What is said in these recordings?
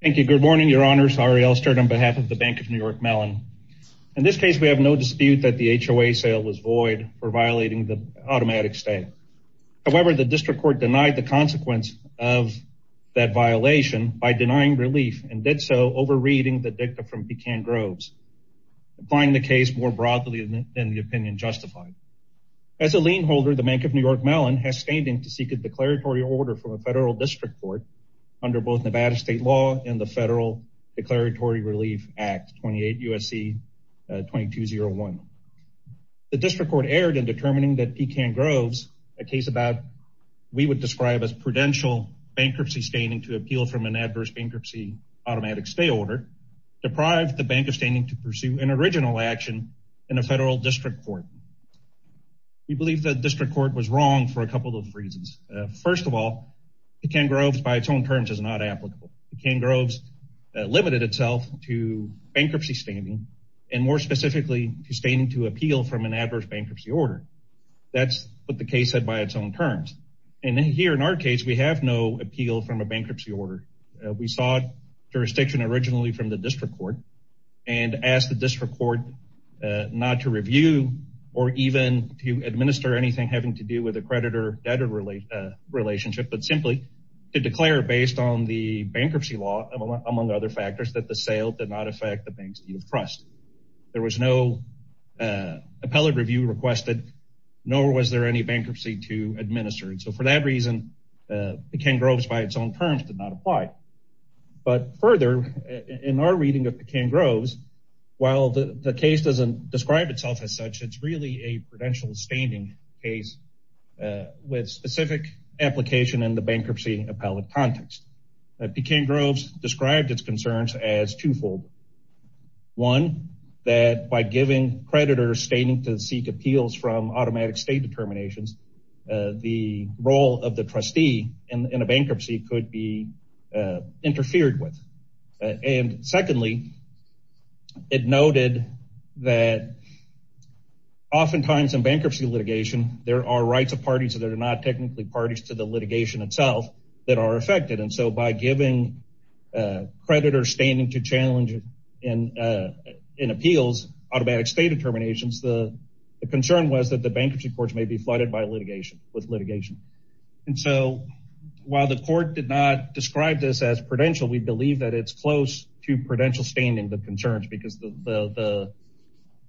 Thank you. Good morning, your honors. Arielle Sturt on behalf of the Bank of New York Mellon. In this case, we have no dispute that the HOA sale was void for violating the automatic stay. However, the district court denied the consequence of that violation by denying relief and did so over reading the dicta from Buchan Groves, applying the case more broadly than the opinion justified. As a lien holder, the Bank of New York Mellon has standing to seek a declaratory order from federal district court under both Nevada state law and the Federal Declaratory Relief Act 28 U.S.C. 2201. The district court erred in determining that Buchan Groves, a case about we would describe as prudential bankruptcy standing to appeal from an adverse bankruptcy automatic stay order, deprived the Bank of standing to pursue an original action in a federal district court. We believe that district court was wrong for a couple of reasons. First of all, Buchan Groves by its own terms is not applicable. Buchan Groves limited itself to bankruptcy standing and more specifically to standing to appeal from an adverse bankruptcy order. That's what the case said by its own terms. And here in our case, we have no appeal from a bankruptcy order. We sought jurisdiction originally from the district court and asked the district court not to review or even to administer anything having to do with a creditor-debtor relationship, but simply to declare based on the bankruptcy law, among other factors, that the sale did not affect the Bank's deed of trust. There was no appellate review requested, nor was there any bankruptcy to administer. And so for that reason, Buchan Groves by its own terms did not apply. But further, in our reading of Buchan Groves, while the case doesn't describe itself as such, it's really a prudential standing case with specific application in the bankruptcy appellate context. Buchan Groves described its concerns as twofold. One, that by giving creditors standing to seek appeals from automatic state determinations, the role of the trustee in a bankruptcy could be interfered with. And secondly, it noted that oftentimes in bankruptcy litigation, there are rights of parties that are not technically parties to the litigation itself that are affected. And so by giving creditors standing to challenge in appeals automatic state determinations, the concern was that the bankruptcy courts may be flooded with litigation. And so while the court did not to prudential standing the concerns because the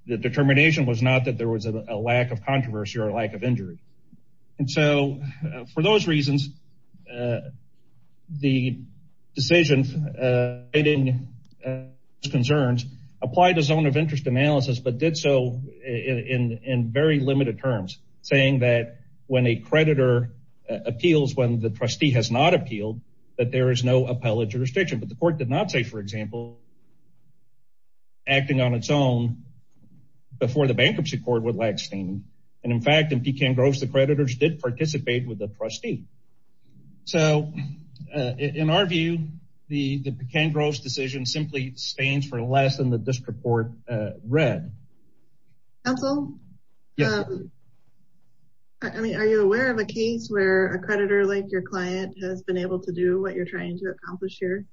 determination was not that there was a lack of controversy or a lack of injury. And so for those reasons, the decision in its concerns applied a zone of interest analysis, but did so in very limited terms, saying that when a creditor appeals when the trustee has not appealed, that there is no appellate jurisdiction. But the court did not say, for example, acting on its own before the bankruptcy court would lack standing. And in fact, in Buchan Groves, the creditors did participate with the trustee. So in our view, the Buchan Groves decision simply stands for less than the district court read. Counsel, I mean, are you aware of a case where a creditor like your client has been able to do what you're trying to accomplish here?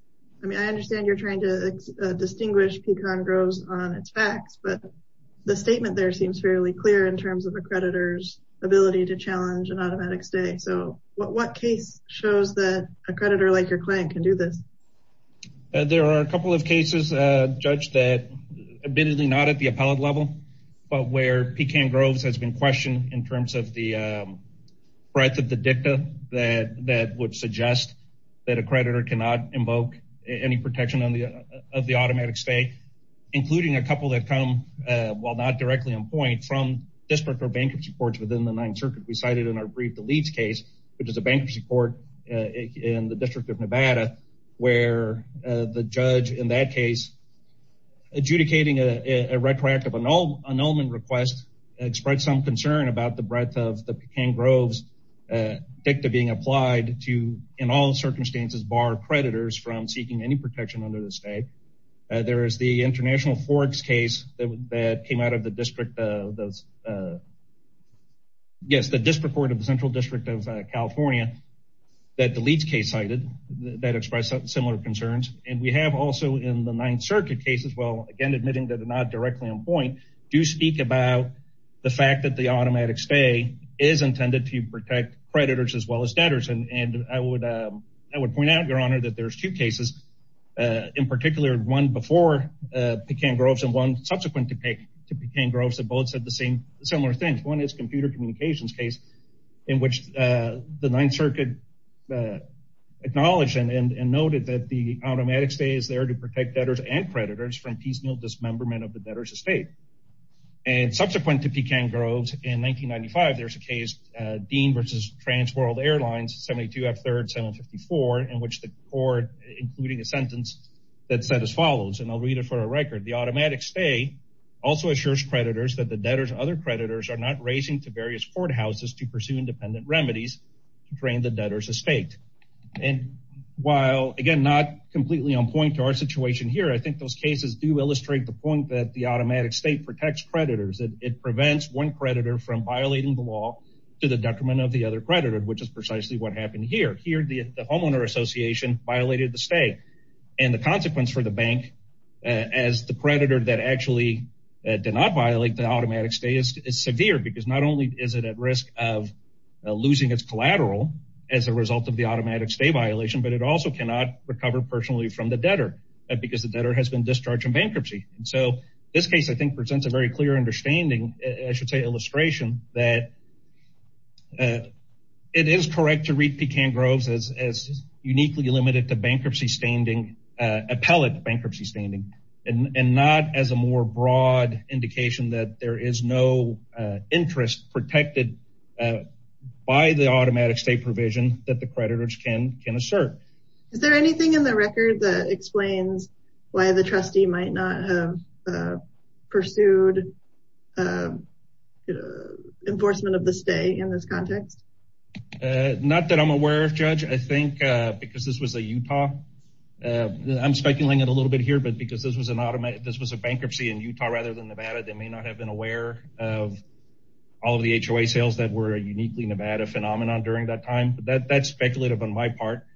I mean, I understand you're trying to distinguish Buchan Groves on its facts, but the statement there seems fairly clear in terms of a creditor's ability to challenge an automatic stay. So what case shows that a creditor like your client can do this? There are a couple of cases, Judge, that admittedly not at the appellate level, but where Buchan Groves has been questioned in terms of the breadth of the dicta that would suggest that a creditor cannot invoke any protection of the automatic stay, including a couple that come while not directly on point from district or bankruptcy courts within the Ninth Circuit. We cited in our brief the Leeds case, which is a bankruptcy court in the District of Nevada, where the judge in that case adjudicating a retroactive annulment request, expressed some to, in all circumstances, bar creditors from seeking any protection under the state. There is the International Forex case that came out of the District of California that the Leeds case cited that expressed similar concerns. And we have also in the Ninth Circuit cases, well, again, admitting that they're not directly on point, do speak about the fact that automatic stay is intended to protect creditors as well as debtors. And I would point out, Your Honor, that there's two cases in particular, one before Buchan Groves and one subsequent to Buchan Groves that both said the same similar things. One is a computer communications case in which the Ninth Circuit acknowledged and noted that the automatic stay is there to protect debtors and creditors from piecemeal dismemberment of the debtor's estate. And subsequent to Buchan Groves in 1995, there's a case, Dean versus Trans World Airlines, 72 F3rd 754, in which the court, including a sentence that said as follows, and I'll read it for a record, the automatic stay also assures creditors that the debtors and other creditors are not raising to various courthouses to pursue independent remedies to drain the debtor's estate. And while, again, not completely on point to our situation here, I think those cases do illustrate the point that automatic stay protects creditors. It prevents one creditor from violating the law to the detriment of the other creditor, which is precisely what happened here. Here, the homeowner association violated the stay. And the consequence for the bank as the creditor that actually did not violate the automatic stay is severe because not only is it at risk of losing its collateral as a result of the automatic stay violation, but it also cannot recover personally from the debtor because the case I think presents a very clear understanding, I should say illustration that it is correct to read Buchan Groves as uniquely limited to bankruptcy standing, appellate bankruptcy standing, and not as a more broad indication that there is no interest protected by the automatic stay provision that the creditors can can assert. Is there anything in the record that explains why the trustee might not have pursued enforcement of the stay in this context? Not that I'm aware of, Judge. I think because this was a Utah, I'm speculating a little bit here, but because this was an automatic, this was a bankruptcy in Utah rather than Nevada, they may not have been aware of all of the HOA sales that were a uniquely Nevada phenomenon during that time, but that's speculative on my part.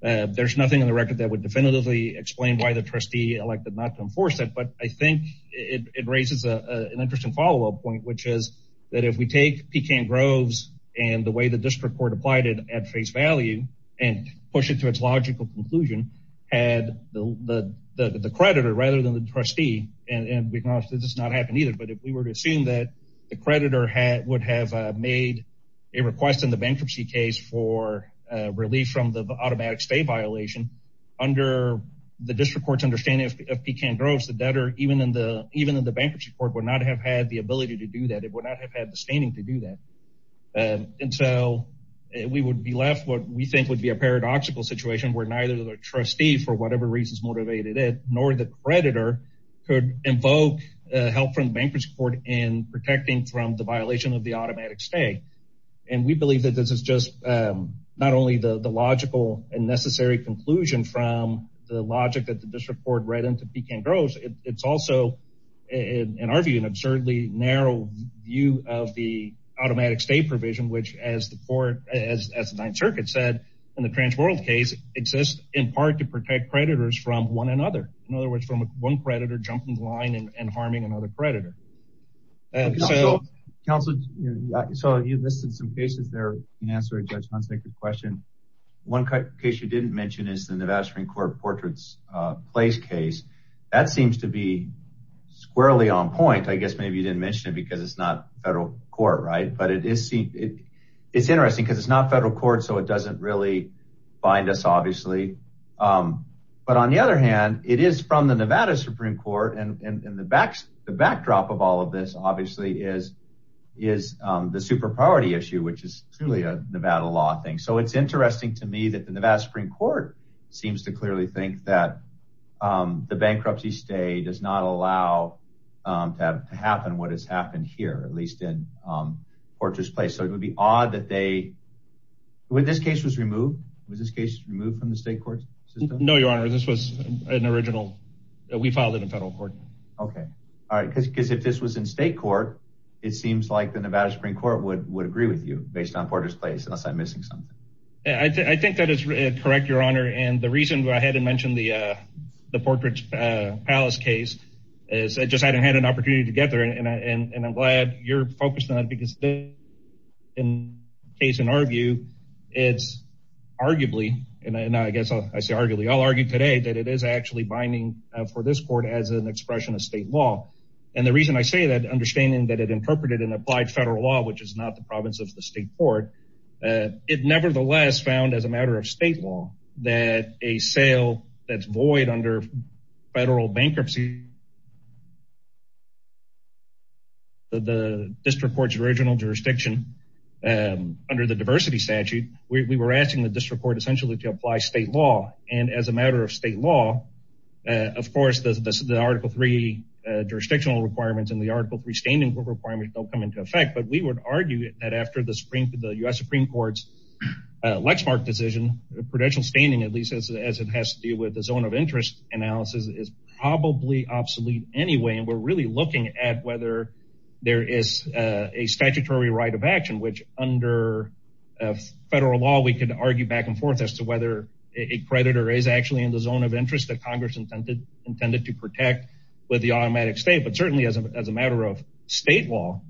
There's nothing in the record that would definitively explain why the trustee elected not to enforce it, but I think it raises an interesting follow-up point, which is that if we take Buchan Groves and the way the district court applied it at face value and push it to its logical conclusion, had the creditor rather than the trustee, and we can honestly this is not happening either, but if we were to assume that the creditor would have made a request in the bankruptcy case for relief from the automatic stay violation under the district court's understanding of Buchan Groves, the debtor, even in the bankruptcy court, would not have had the ability to do that. It would not have had the standing to do that until we would be left what we think would be a paradoxical situation where neither the trustee, for whatever reasons motivated it, nor the creditor could invoke help in protecting from the violation of the automatic stay. And we believe that this is just not only the logical and necessary conclusion from the logic that the district court read into Buchan Groves, it's also, in our view, an absurdly narrow view of the automatic stay provision, which as the court, as the Ninth Circuit said in the Transworld case, exists in part to protect creditors from one another. In other words, from one creditor jumping the line and harming another creditor. So you listed some cases there in answer to Judge Hunt's question. One case you didn't mention is the Nevada Supreme Court portraits place case. That seems to be squarely on point. I guess maybe you didn't mention it because it's not federal court, right? But it is interesting because it's not federal court, so it doesn't really bind us, obviously. But on the other hand, it is from the Nevada Supreme Court and the backdrop of all of this, obviously, is the super priority issue, which is truly a Nevada law thing. So it's interesting to me that the Nevada Supreme Court seems to clearly think that the bankruptcy stay does not allow to happen what has happened here, at least in portrait's place. So it would be odd that they, when this case was removed, was this case removed from the state court system? No, Your Honor. This was an original. We filed it in federal court. Okay. All right. Because if this was in state court, it seems like the Nevada Supreme Court would agree with you based on portrait's place, unless I'm missing something. I think that is correct, Your Honor. And the reason I hadn't mentioned the portrait's palace case is I just hadn't had an opportunity to get there. And I'm glad you're focused on it because in case in our view, it's arguably, and I guess I say arguably, I'll argue today that it is actually binding for this court as an expression of state law. And the reason I say that, understanding that it interpreted and applied federal law, which is not the province of the state court, it nevertheless found as a matter of state law that a sale that's void under federal bankruptcy, the district court's original jurisdiction, under the diversity statute, we were asking the district court essentially to apply state law. And as a matter of state law, of course, the article three jurisdictional requirements and the article three standing requirements don't come into effect. But we would argue that after the Supreme, the U.S. Supreme Court's Lexmark decision, the prudential standing, at least as it has to do with the zone of interest analysis is probably obsolete anyway. And we're really looking at whether there is a statutory right of action, which under federal law, we can argue back and forth as to whether a creditor is actually in the zone of interest that Congress intended to protect with the automatic state. But certainly as a matter of state law,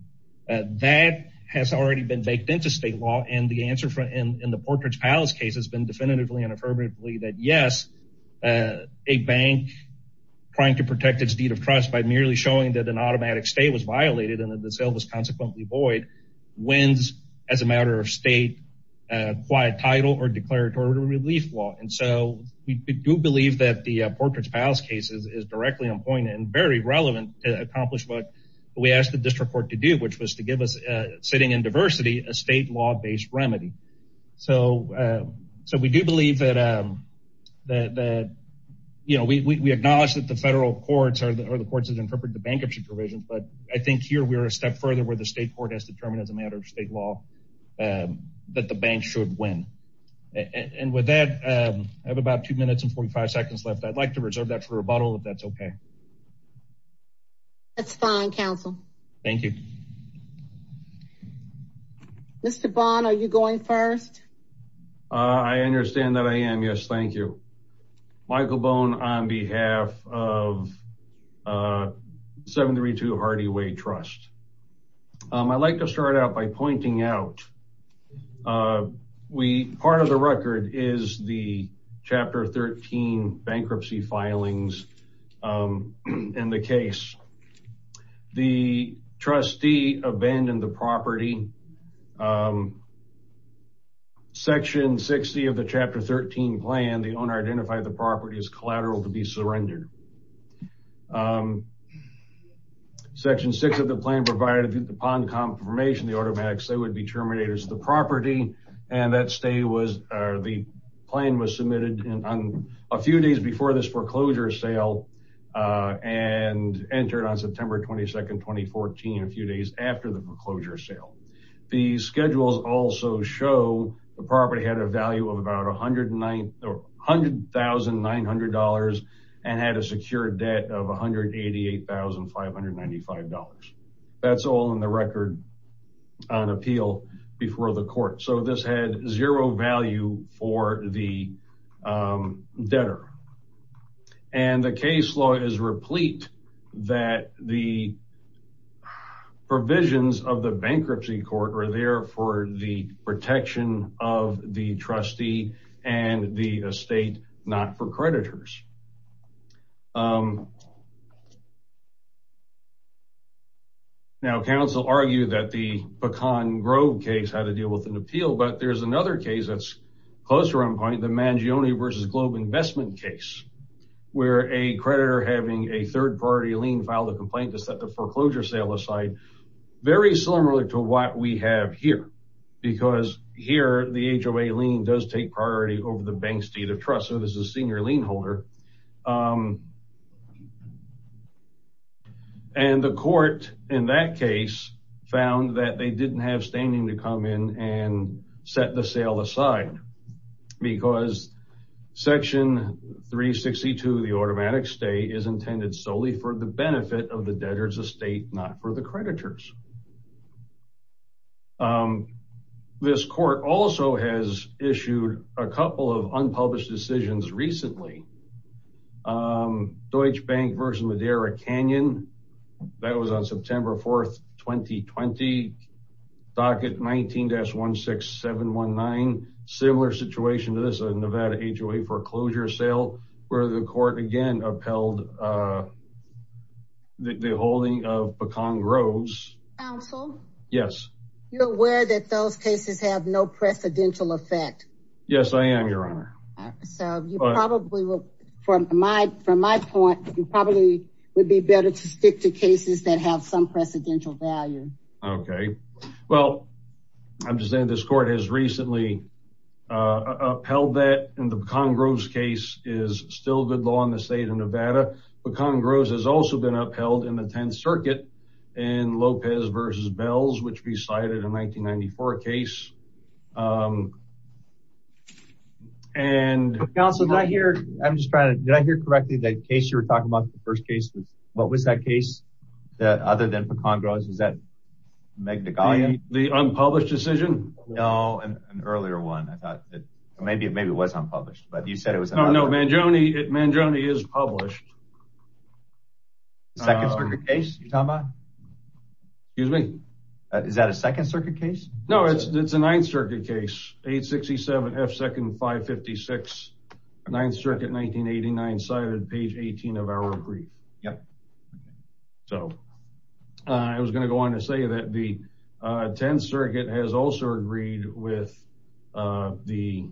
that has already been baked into state law. And the answer in the Portridge Palace case has been definitively and affirmatively that yes, a bank trying to protect its deed of trust by merely showing that an automatic state was wins as a matter of state, a quiet title or declaratory relief law. And so we do believe that the Portridge Palace cases is directly on point and very relevant to accomplish what we asked the district court to do, which was to give us sitting in diversity, a state law based remedy. So, so we do believe that, that, that, you know, we acknowledge that the federal courts are the courts that interpret the bankruptcy provisions, but I think here we're a step forward as determined as a matter of state law, that the bank should win. And with that, I have about two minutes and 45 seconds left. I'd like to reserve that for rebuttal if that's okay. That's fine, counsel. Thank you. Mr. Bond, are you going first? I understand that I am. Yes, thank you. Michael Bond on behalf of 732 Hardy Way Trust. I'd like to start out by pointing out, we, part of the record is the chapter 13 bankruptcy filings and the case. The trustee abandoned the property. Section 60 of the chapter 13 plan, the owner identified the property as collateral to be surrendered. Section six of the plan provided upon confirmation, the automatic sale would be terminated as the property. And that stay was, the plan was submitted on a few days before this foreclosure sale and entered on September 22nd, 2014, a few days after the foreclosure sale. The schedules also show the property had a value of about $100,900 and had a secure debt of $188,595. That's all in the record on appeal before the court. So this had zero value for the debtor. And the case law is replete that the provisions of the bankruptcy court are there for the protection of the trustee and the estate, not for creditors. Now counsel argue that the Pecan Grove case had to deal with an appeal, but there's another case closer on point, the Mangione versus Globe investment case, where a creditor having a third party lien filed a complaint to set the foreclosure sale aside. Very similar to what we have here because here the HOA lien does take priority over the bank's deed of trust. So this is a senior lien holder. And the court in that case found that they didn't have standing to come and set the sale aside because section 362 of the automatic stay is intended solely for the benefit of the debtor's estate, not for the creditors. This court also has issued a couple of unpublished decisions recently. Deutsche Bank versus Madera Canyon, that was on September 4th, 2020. Docket 19-16719, similar situation to this, a Nevada HOA foreclosure sale where the court again upheld the holding of Pecan Grove. Counsel? Yes. You're aware that those cases have no precedential effect? Yes, I am your honor. So you probably will, from my point, you probably would be better to stick to cases that have some precedential value. Okay. Well, I'm just saying this court has recently upheld that and the Pecan Grove case is still good law in the state of Nevada. Pecan Grove has also been upheld in the 10th circuit in Lopez versus Bells, which we cited a 1994 case. And... Counsel, did I hear, I'm just trying to, did I hear correctly that case you were talking about the first case? What was that case? That other than Pecan Grove, is that Meg Nagalia? The unpublished decision? No, an earlier one. I thought that maybe, maybe it was unpublished, but you said it was... No, no. Mangione, Mangione is published. Second circuit case you're talking about? Excuse me? Is that a second circuit case? No, it's a ninth circuit case. 8-67-F-5-56, ninth circuit, 1989 cited, page 18 of our brief. Yep. So I was going to go on to say that the 10th circuit has also agreed with the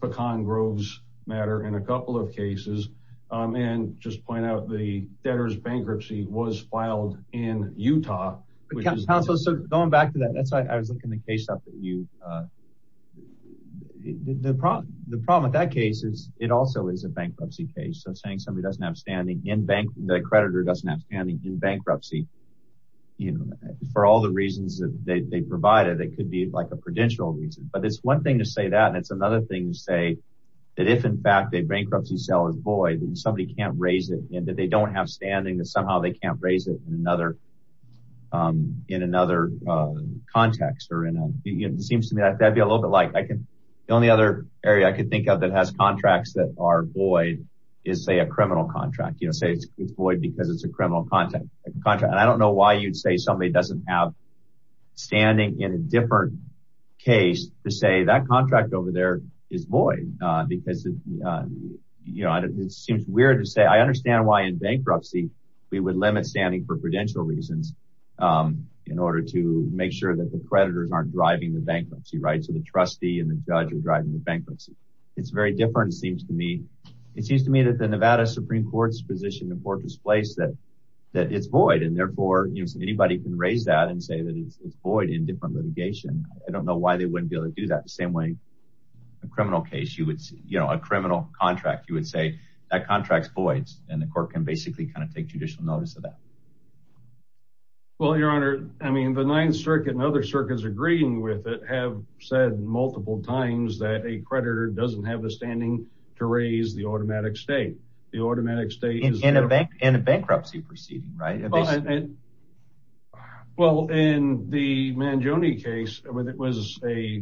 Pecan Grove's matter in a couple of cases and just point out the debtor's bankruptcy was filed in Utah. Counsel, so going back to that, that's why I was looking the case up at you. The problem with that case is it also is a bankruptcy case. So saying somebody doesn't have standing in bankruptcy, for all the reasons that they provided, it could be like a prudential reason. But it's one thing to say that, and it's another thing to say that if in fact a bankruptcy sale is void and somebody can't raise it and that they don't have standing, that somehow they can't raise it in another context. It seems to me like that'd be a little bit like, the only other area I could think of that has contracts that are void is say a criminal contract. Say it's void because it's a criminal contract. And I don't know why you'd say somebody doesn't have standing in a different case to say that contract over there is void because it seems weird to say. I understand why in bankruptcy we would limit standing for prudential reasons in order to make sure that the creditors aren't driving the bankruptcy, right? So the trustee and the judge are driving the bankruptcy. It's very different, it seems to me. It seems to me that the Nevada Supreme Court's position, the court has placed that it's void and therefore anybody can raise that and say that it's void in different litigation. I don't know why they wouldn't be able to do that the same way a criminal case you would see, you know, a criminal contract, you would say that contract's void and the court can basically kind of take judicial notice of that. Well, your honor, I mean the Ninth Circuit and other circuits agreeing with it have said multiple times that a creditor doesn't have the standing to raise the automatic state. In a bankruptcy proceeding, right? Well, in the Mangione case, it was a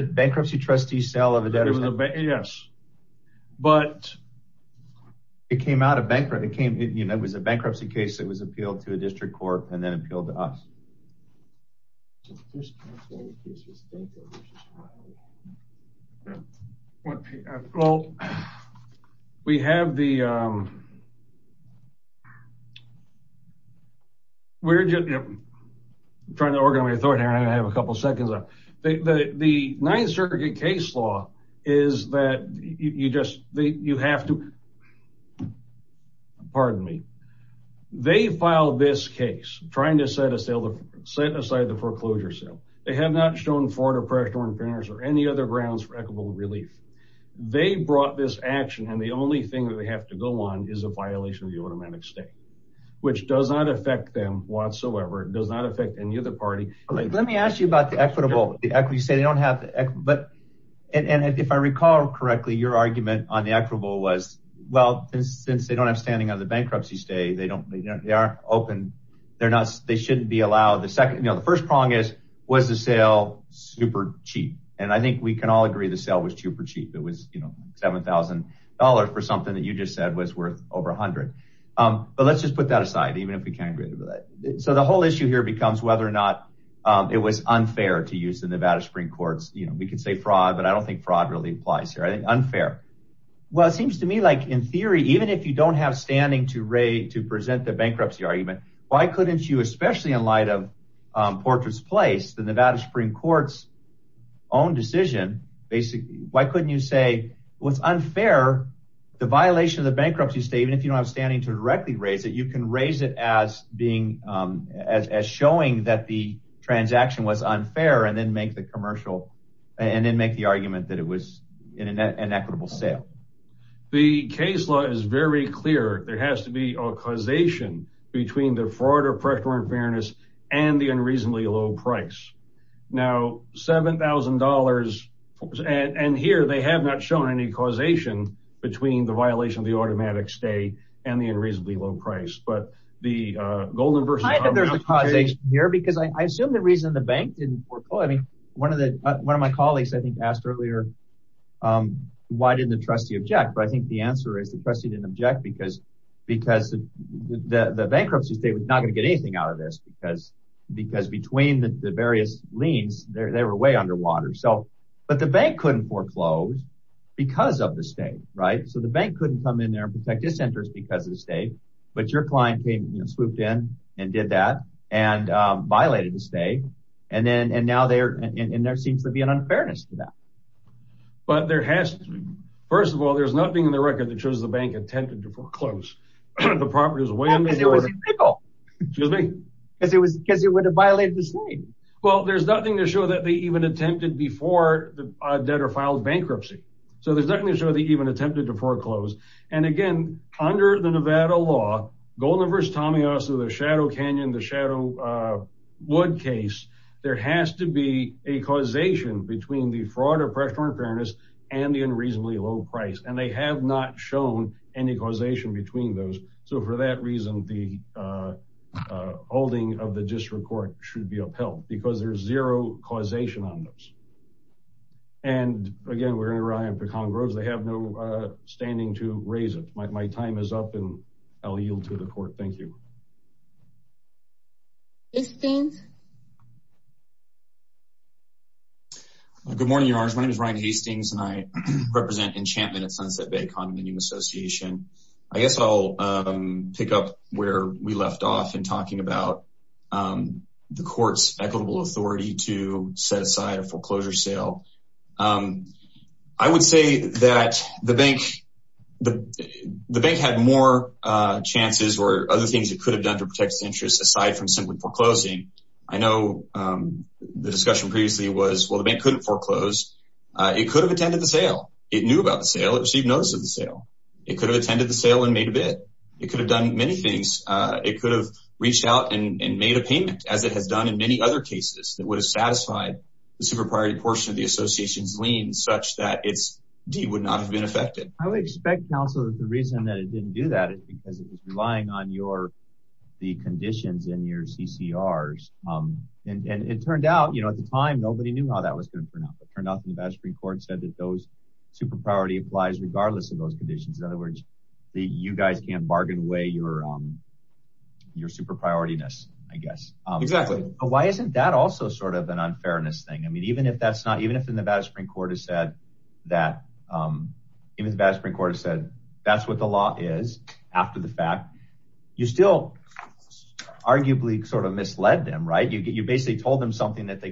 bankruptcy trustee sale of a debtor's house. But it came out of bankruptcy. It was a bankruptcy case that was appealed to a district court and then appealed to us. Well, we have the, we're just trying to organize my thought here and I have a couple seconds left. The Ninth Circuit case law is that you just, you have to, pardon me, they filed this case trying to set aside the foreclosure sale. They have not shown fraud or pressure on printers or any other grounds for equitable relief. They brought this action and the only thing that they have to go on is a violation of the automatic state, which does not affect them whatsoever. It does not affect any other party. Let me ask you about the equitable. You say they don't have the equity, but and if I recall correctly, your standing on the bankruptcy state, they don't, they aren't open. They're not, they shouldn't be allowed. The second, you know, the first prong is, was the sale super cheap? And I think we can all agree the sale was super cheap. It was, you know, $7,000 for something that you just said was worth over a hundred. But let's just put that aside, even if we can't agree with that. So the whole issue here becomes whether or not it was unfair to use the Nevada spring courts. You know, we can say fraud, but I don't think fraud really applies here. I think unfair. Well, it seems to me in theory, even if you don't have standing to present the bankruptcy argument, why couldn't you, especially in light of portrait's place, the Nevada spring courts own decision, basically, why couldn't you say what's unfair, the violation of the bankruptcy state, even if you don't have standing to directly raise it, you can raise it as being as, as showing that the transaction was unfair and then make the commercial and then make the argument that it was in an equitable sale. The case law is very clear. There has to be a causation between the fraud or practical unfairness and the unreasonably low price now $7,000. And here they have not shown any causation between the violation of the automatic stay and the unreasonably low price, but the golden versus here, because I assume the reason the bank didn't work. Oh, I mean, one of the, one of my colleagues, I think asked earlier, why didn't the trustee object? But I think the answer is the trustee didn't object because, because the bankruptcy state was not going to get anything out of this because, because between the various leans there, they were way underwater. So, but the bank couldn't foreclose because of the state, right? So the bank couldn't come in there and protect his centers because of the state, but your client came swooped in and did that and violated the state. And then, and now they're in, there seems to be an unfairness to that, but there has to be, first of all, there's nothing in the record that shows the bank attempted to foreclose the properties. It was because it would have violated the state. Well, there's nothing to show that they even attempted before the debtor filed bankruptcy. So there's nothing to show that even attempted to foreclose. And again, under the Nevada law, Goldenverse, Tamiasa, the Shadow Canyon, the Shadow Wood case, there has to be a causation between the fraud or pressure on fairness and the unreasonably low price. And they have not shown any causation between those. So for that reason, the holding of the district court should be upheld because there's zero causation on those. And again, we're going to rely on Pecan Grove. They have no standing to raise it. My time is up and I'll yield to the court. Thank you. Good morning, Your Honor. My name is Ryan Hastings and I represent Enchantment at Sunset Bay Condominium Association. I guess I'll pick up where we left off in talking about the court's authority to set aside a foreclosure sale. I would say that the bank had more chances or other things it could have done to protect its interests aside from simply foreclosing. I know the discussion previously was, well, the bank couldn't foreclose. It could have attended the sale. It knew about the sale. It received notice of the sale. It could have attended the sale and made a bid. It could have done many things. It could have reached out and made a case that would have satisfied the super-priority portion of the association's lien such that its deed would not have been affected. I would expect, counsel, that the reason that it didn't do that is because it was relying on the conditions in your CCRs. And it turned out, at the time, nobody knew how that was going to turn out. It turned out that the Madison Supreme Court said that those super-priority applies regardless of those conditions. In other words, you guys can't bargain away your super-priority-ness, I guess. But why isn't that also sort of an unfairness thing? Even if the Madison Supreme Court has said that's what the law is after the fact, you still arguably sort of misled them, right? You basically told them something that they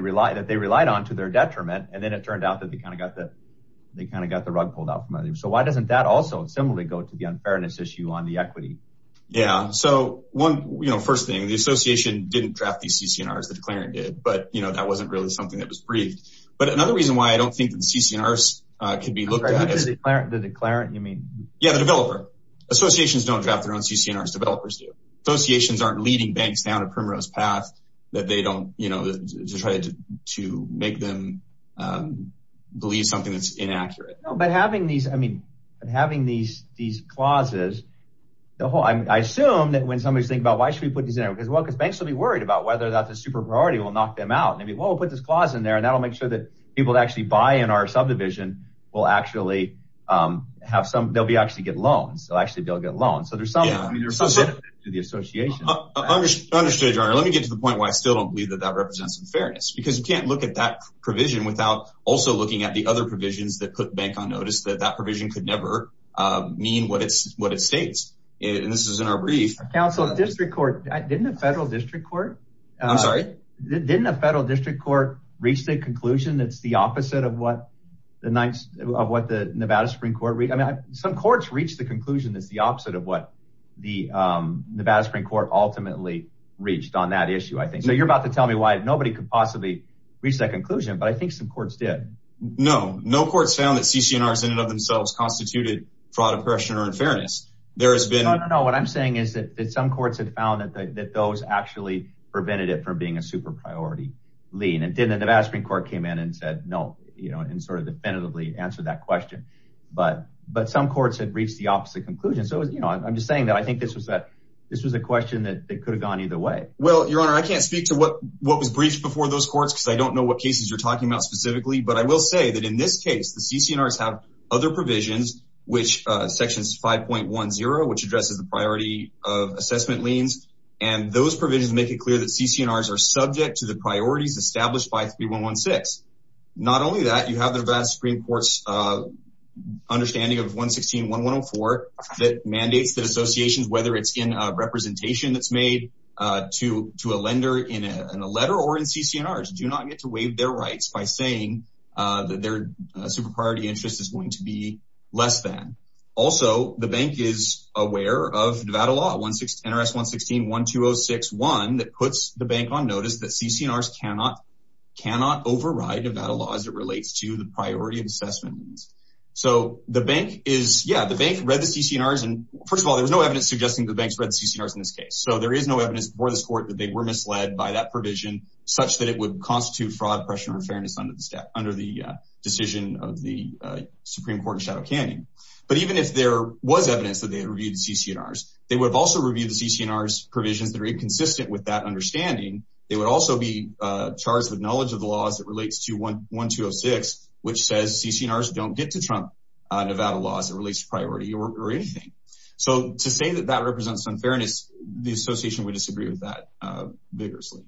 relied on to their detriment, and then it turned out that they kind of got the rug pulled out from under them. So why doesn't that also similarly go to the unfairness issue on the equity? Yeah. So, first thing, the association didn't draft these CCRs. The declarant did. But that wasn't really something that was briefed. But another reason why I don't think that the CCRs could be looked at as... The declarant, you mean? Yeah, the developer. Associations don't draft their own CCRs. Developers do. Associations aren't leading banks down a primrose path that they don't try to make them believe something that's inaccurate. No, but having these clauses, I assume that when somebody's thinking about why should we put these in there? Because banks will be worried about whether that's a super-priority will knock them out. And they'll be, well, we'll put this clause in there, and that'll make sure that people that actually buy in our subdivision will actually have some... They'll actually get loans. They'll actually be able to get loans. So there's some... Yeah, I mean, there's some... To the association. I understand, John. Let me get to the point why I still don't believe that that represents unfairness. Because you can't look at that provision without also looking at the other provisions that put bank on notice, that that provision could never mean what it states. And this is in our brief. Council, district court... Didn't a federal district court... I'm sorry? Didn't a federal district court reach the conclusion that's the opposite of what the Nevada Supreme Court... I mean, some courts reached the conclusion that's the opposite of what the Nevada Supreme Court ultimately reached on that issue, I think. So you're about to tell me nobody could possibly reach that conclusion, but I think some courts did. No. No courts found that CCNRs in and of themselves constituted fraud, oppression, or unfairness. There has been... No, no, no. What I'm saying is that some courts had found that those actually prevented it from being a super priority lien. And then the Nevada Supreme Court came in and said, no, and sort of definitively answered that question. But some courts had reached the opposite conclusion. So I'm just saying that I think this was a question that could have gone either way. Well, your honor, I can't speak to what was briefed before those courts because I don't know what cases you're talking about specifically. But I will say that in this case, the CCNRs have other provisions, which section 5.10, which addresses the priority of assessment liens. And those provisions make it clear that CCNRs are subject to the priorities established by 3116. Not only that, you have the Nevada Supreme Court's understanding of 116-1104 that mandates that associations, whether it's in a representation that's made to a lender in a letter or in CCNRs, do not get to waive their rights by saying that their super priority interest is going to be less than. Also, the bank is aware of Nevada law, NRS 116-1206-1, that puts the bank on notice that CCNRs cannot override Nevada law as it relates to the priority of assessment liens. So the bank is, yeah, the bank read the CCNRs and first of all, there was no evidence suggesting the bank's read CCNRs in this case. So there is no evidence before this court that they were misled by that provision such that it would constitute fraud, oppression, or unfairness under the decision of the Supreme Court in Shadow Canyon. But even if there was evidence that they had reviewed the CCNRs, they would have also reviewed the CCNRs provisions that are inconsistent with that understanding. They would also be charged with knowledge of the laws that relates to 1206, which says CCNRs don't get to trump Nevada law as it relates to priority or anything. So to say that that represents unfairness, the association would disagree with that vigorously.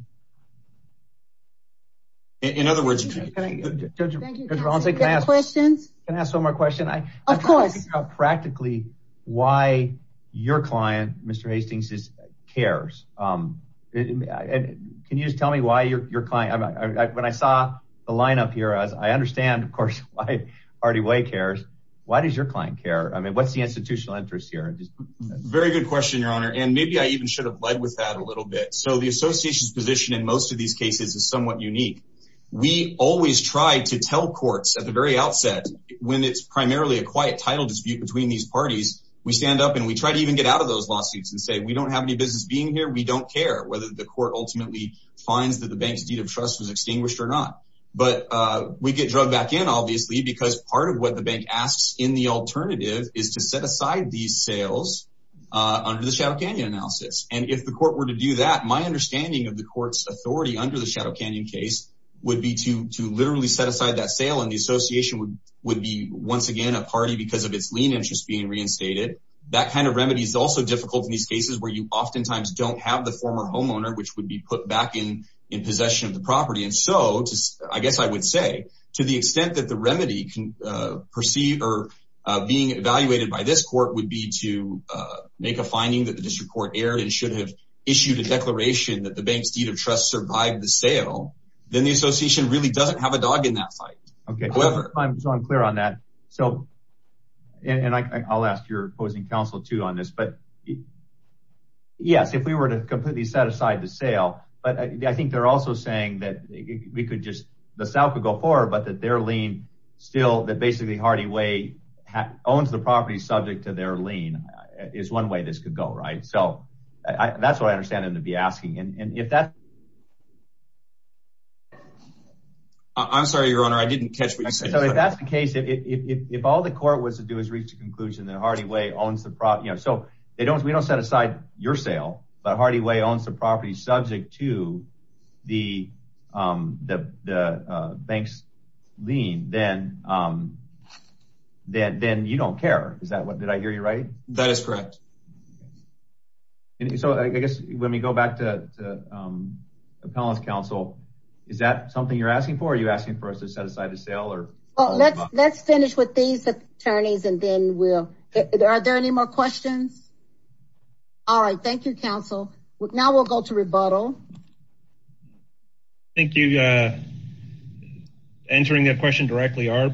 In other words, Judge Valencia, can I ask one more question? Of course. I'm trying to figure out practically why your client, Mr. Hastings, cares. Can you just tell me why your client, when I saw the lineup here, as I understand, of course, why Artie Way cares, why does your client care? I mean, what's the institutional interest here? Very good question, Your Honor. And maybe I even should have led with that a little bit. So the association's position in most of these cases is somewhat unique. We always try to tell courts at the very outset when it's primarily a quiet title dispute between these parties, we stand up and we try to even get out of those lawsuits and say, we don't have any business being here. We don't care whether the court ultimately finds that the bank's deed of trust was extinguished or not. But we get drug back in, obviously, because part of what the bank asks in the alternative is to set aside these sales under the Shadow Canyon analysis. And if the court were to do that, my understanding of the court's authority under the Shadow Canyon case would be to literally set aside that sale and the association would be once again a party because of its lien interest being reinstated. That kind of remedy is also difficult in these cases where you oftentimes don't have the former homeowner, which would be put back in possession of the property. And so, I guess I would say to the extent that the remedy can perceive or being evaluated by this court would be to make a finding that the district court erred and should have issued a declaration that the bank's deed of trust survived the sale, then the association really doesn't have a dog in that fight. Okay. I'm clear on that. So, and I'll ask your opposing counsel too on this, but I think, yes, if we were to completely set aside the sale, but I think they're also saying that we could just, the sale could go forward, but that their lien still, that basically Hardy Way owns the property subject to their lien is one way this could go, right? So, that's what I understand them to be asking. And if that's... I'm sorry, your honor. I didn't catch what you said. So, if that's the case, if all the court was to do is reach the conclusion that Hardy Way owns the property, you know, so they don't, we don't set aside your sale, but Hardy Way owns the property subject to the bank's lien, then you don't care. Is that what, did I hear you right? That is correct. So, I guess, let me go back to appellant's counsel. Is that something you're asking for? Are you asking for us to set aside the sale or? Well, let's finish with these more questions. All right. Thank you, counsel. Now we'll go to rebuttal. Thank you. Answering that question directly, our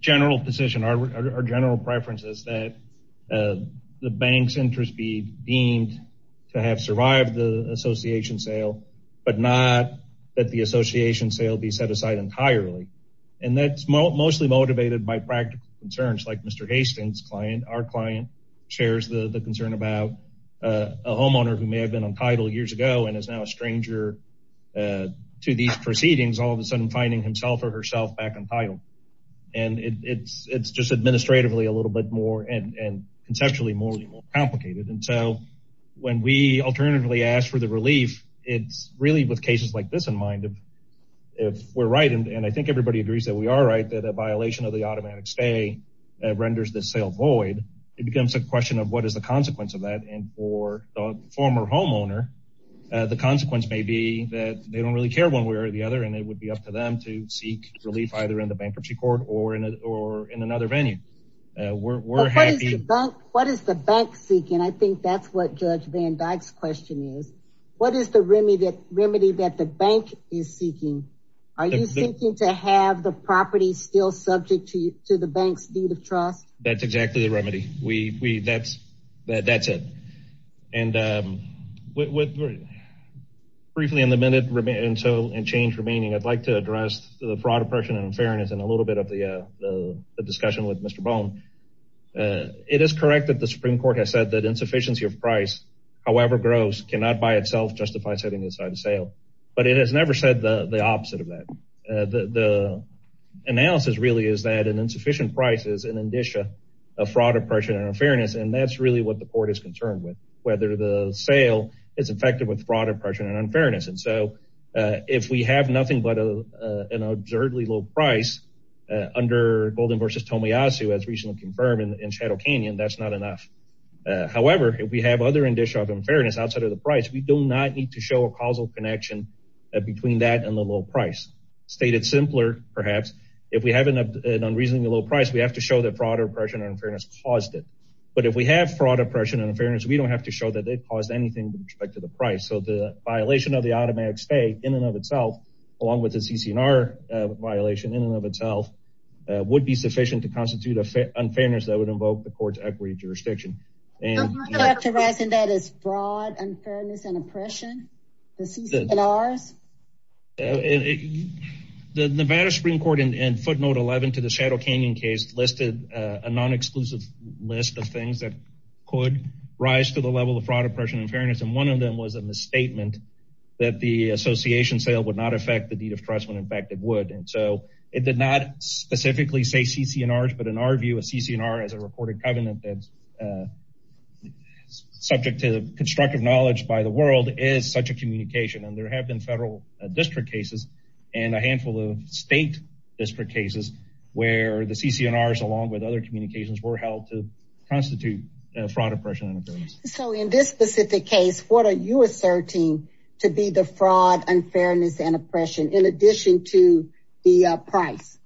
general position, our general preference is that the bank's interest be deemed to have survived the association sale, but not that the association sale be set aside entirely. And that's mostly motivated by practical concerns like Mr. Hastings' client. Our client shares the concern about a homeowner who may have been untitled years ago, and is now a stranger to these proceedings, all of a sudden finding himself or herself back untitled. And it's just administratively a little bit more, and conceptually more complicated. And so, when we alternatively ask for the relief, it's really with cases like this in mind, if we're right, and I think everybody agrees that we are right, that a violation of the automatic stay renders the sale void, it becomes a question of what is the consequence of that. And for the former homeowner, the consequence may be that they don't really care one way or the other, and it would be up to them to seek relief either in the bankruptcy court or in another venue. What is the bank seeking? I think that's what Judge Van Dyck's question is. What is the remedy that the bank is seeking? Are you thinking to have the property still subject to the bank's deed of trust? That's exactly the remedy. That's it. And briefly in the minute, and change remaining, I'd like to address the fraud, oppression, and unfairness in a little bit of the discussion with Mr. Bone. It is correct that the Supreme Court has said that insufficiency of price, however gross, cannot by itself justify setting aside a sale. But it has never said the opposite of that. The analysis really is that an insufficient price is an indicia of fraud, oppression, and unfairness, and that's really what the court is concerned with, whether the sale is infected with fraud, oppression, and unfairness. And so if we have nothing but an absurdly low price under Golden v. Tomiyasu, as recently confirmed in Shadow Canyon, that's not enough. However, if we have other indicia of unfairness outside of the price, we do not need to show a causal connection between that and the low price. Stated simpler, perhaps, if we have an unreasonably low price, we have to show that fraud, oppression, and unfairness caused it. But if we have fraud, oppression, and unfairness, we don't have to show that they caused anything with respect to the price. So the violation of the automatic stay in and of itself, along with the CC&R violation in and of itself, would be sufficient to constitute unfairness that would invoke the court's equity jurisdiction. I'm not characterizing that as unfairness and oppression, the CC&Rs. The Nevada Supreme Court, in footnote 11 to the Shadow Canyon case, listed a non-exclusive list of things that could rise to the level of fraud, oppression, and unfairness, and one of them was a misstatement that the association sale would not affect the deed of trust when in fact it would. And so it did not specifically say CC&Rs, but in our view, a CC&R is a recorded covenant that's subject to constructive knowledge by the world is such a communication. And there have been federal district cases and a handful of state district cases where the CC&Rs, along with other communications, were held to constitute fraud, oppression, and unfairness. So in this specific case, what are you asserting to be the fraud, unfairness, and oppression in addition to the price?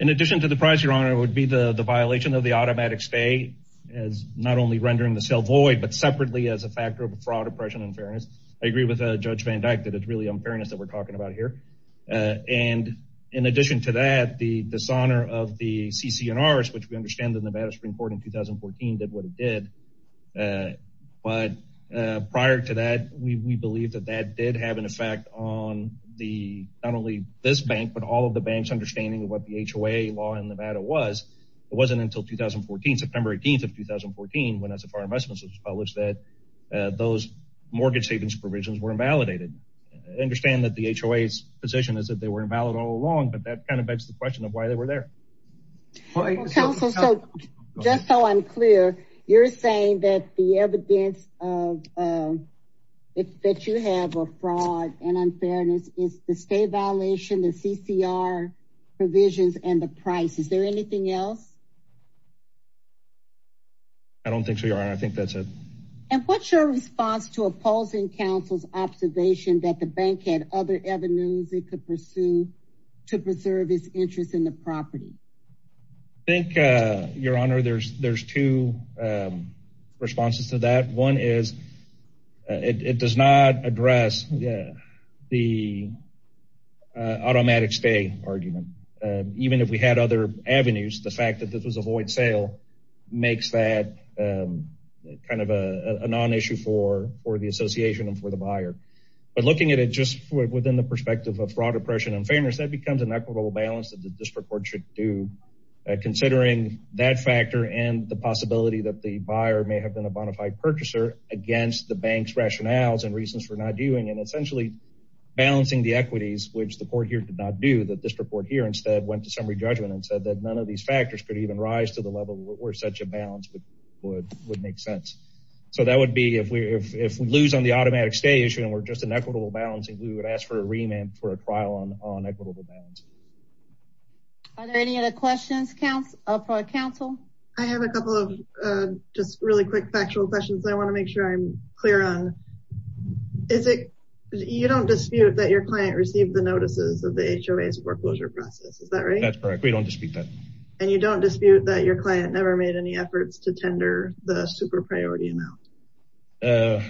In addition to the price, it would be the violation of the automatic stay as not only rendering the sale void, but separately as a factor of fraud, oppression, and unfairness. I agree with Judge Van Dyck that it's really unfairness that we're talking about here. And in addition to that, the dishonor of the CC&Rs, which we understand the Nevada Supreme Court in 2014 did what it did. But prior to that, we believe that that did have an effect on not only this bank, but all of the bank's understanding of what the HOA law in Nevada was. It wasn't until 2014, September 18th of 2014, when SFR Investments was published, that those mortgage savings provisions were invalidated. I understand that the HOA's position is that they were invalid all along, but that kind of begs the question of why they were there. Counsel, just so I'm clear, you're saying that the evidence that you have of and the price, is there anything else? I don't think so, Your Honor. I think that's it. And what's your response to opposing counsel's observation that the bank had other avenues it could pursue to preserve its interest in the property? I think, Your Honor, there's two responses to that. One is, it does not address the automatic stay argument. Even if we had other avenues, the fact that this was a void sale makes that kind of a non-issue for the association and for the buyer. But looking at it just within the perspective of fraud, oppression, and fairness, that becomes an equitable balance that the district court should do, considering that factor and the possibility that the buyer may have been a bona fide purchaser against the bank's rationales and reasons for not doing, and essentially balancing the equities, which the court here did not do. The district court here instead went to summary judgment and said that none of these factors could even rise to the level where such a balance would make sense. So that would be, if we lose on the automatic stay issue and we're just an equitable balance, we would ask for a remand for a trial on equitable balance. Are there any other questions for our counsel? I have a couple of just really quick factual questions I want to make sure I'm clear on. You don't dispute that your client received the notices of the HOA's foreclosure process, is that right? That's correct, we don't dispute that. And you don't dispute that your client never made any efforts to tender the super priority amount? Uh,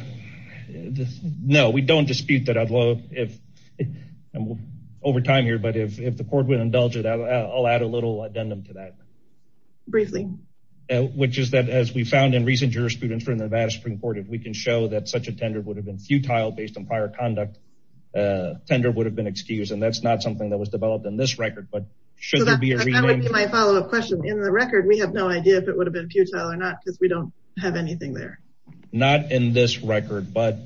no, we don't dispute that. I'd love if, and we're over time here, but if the court would indulge it, I'll add a little addendum to that. Briefly. Which is that as we found in recent jurisprudence from the Nevada Supreme Court, if we can show that such a tender would have been futile based on prior conduct, a tender would have been excused. And that's not something that was developed in this record, but should there be a remand? That would be my follow up question. In the record, we have no idea if it would have been futile or not, because we don't have anything there. Not in this record, but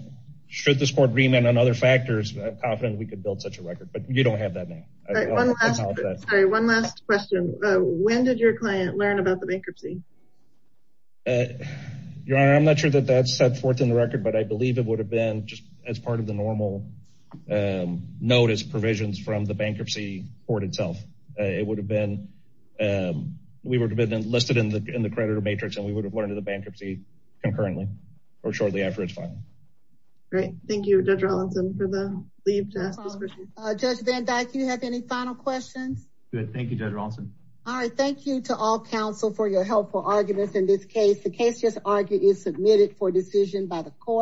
should this court remand on other factors, I'm confident we could build such a record, but you don't have that name. Sorry, one last question. When did your client learn about the bankruptcy? Your Honor, I'm not sure that that's set forth in the record, but I believe it would have been just as part of the normal notice provisions from the bankruptcy court itself. It would have been, we would have been listed in the creditor matrix and we would have learned of the bankruptcy concurrently or shortly after its filing. Great, thank you Judge Rawlinson for the leave to ask this question. Judge Van Dyke, do you have any final questions? Good, thank you Judge Rawlinson. All right, thank you to all counsel for your helpful arguments in this case. The case just argued is submitted for decision by the court.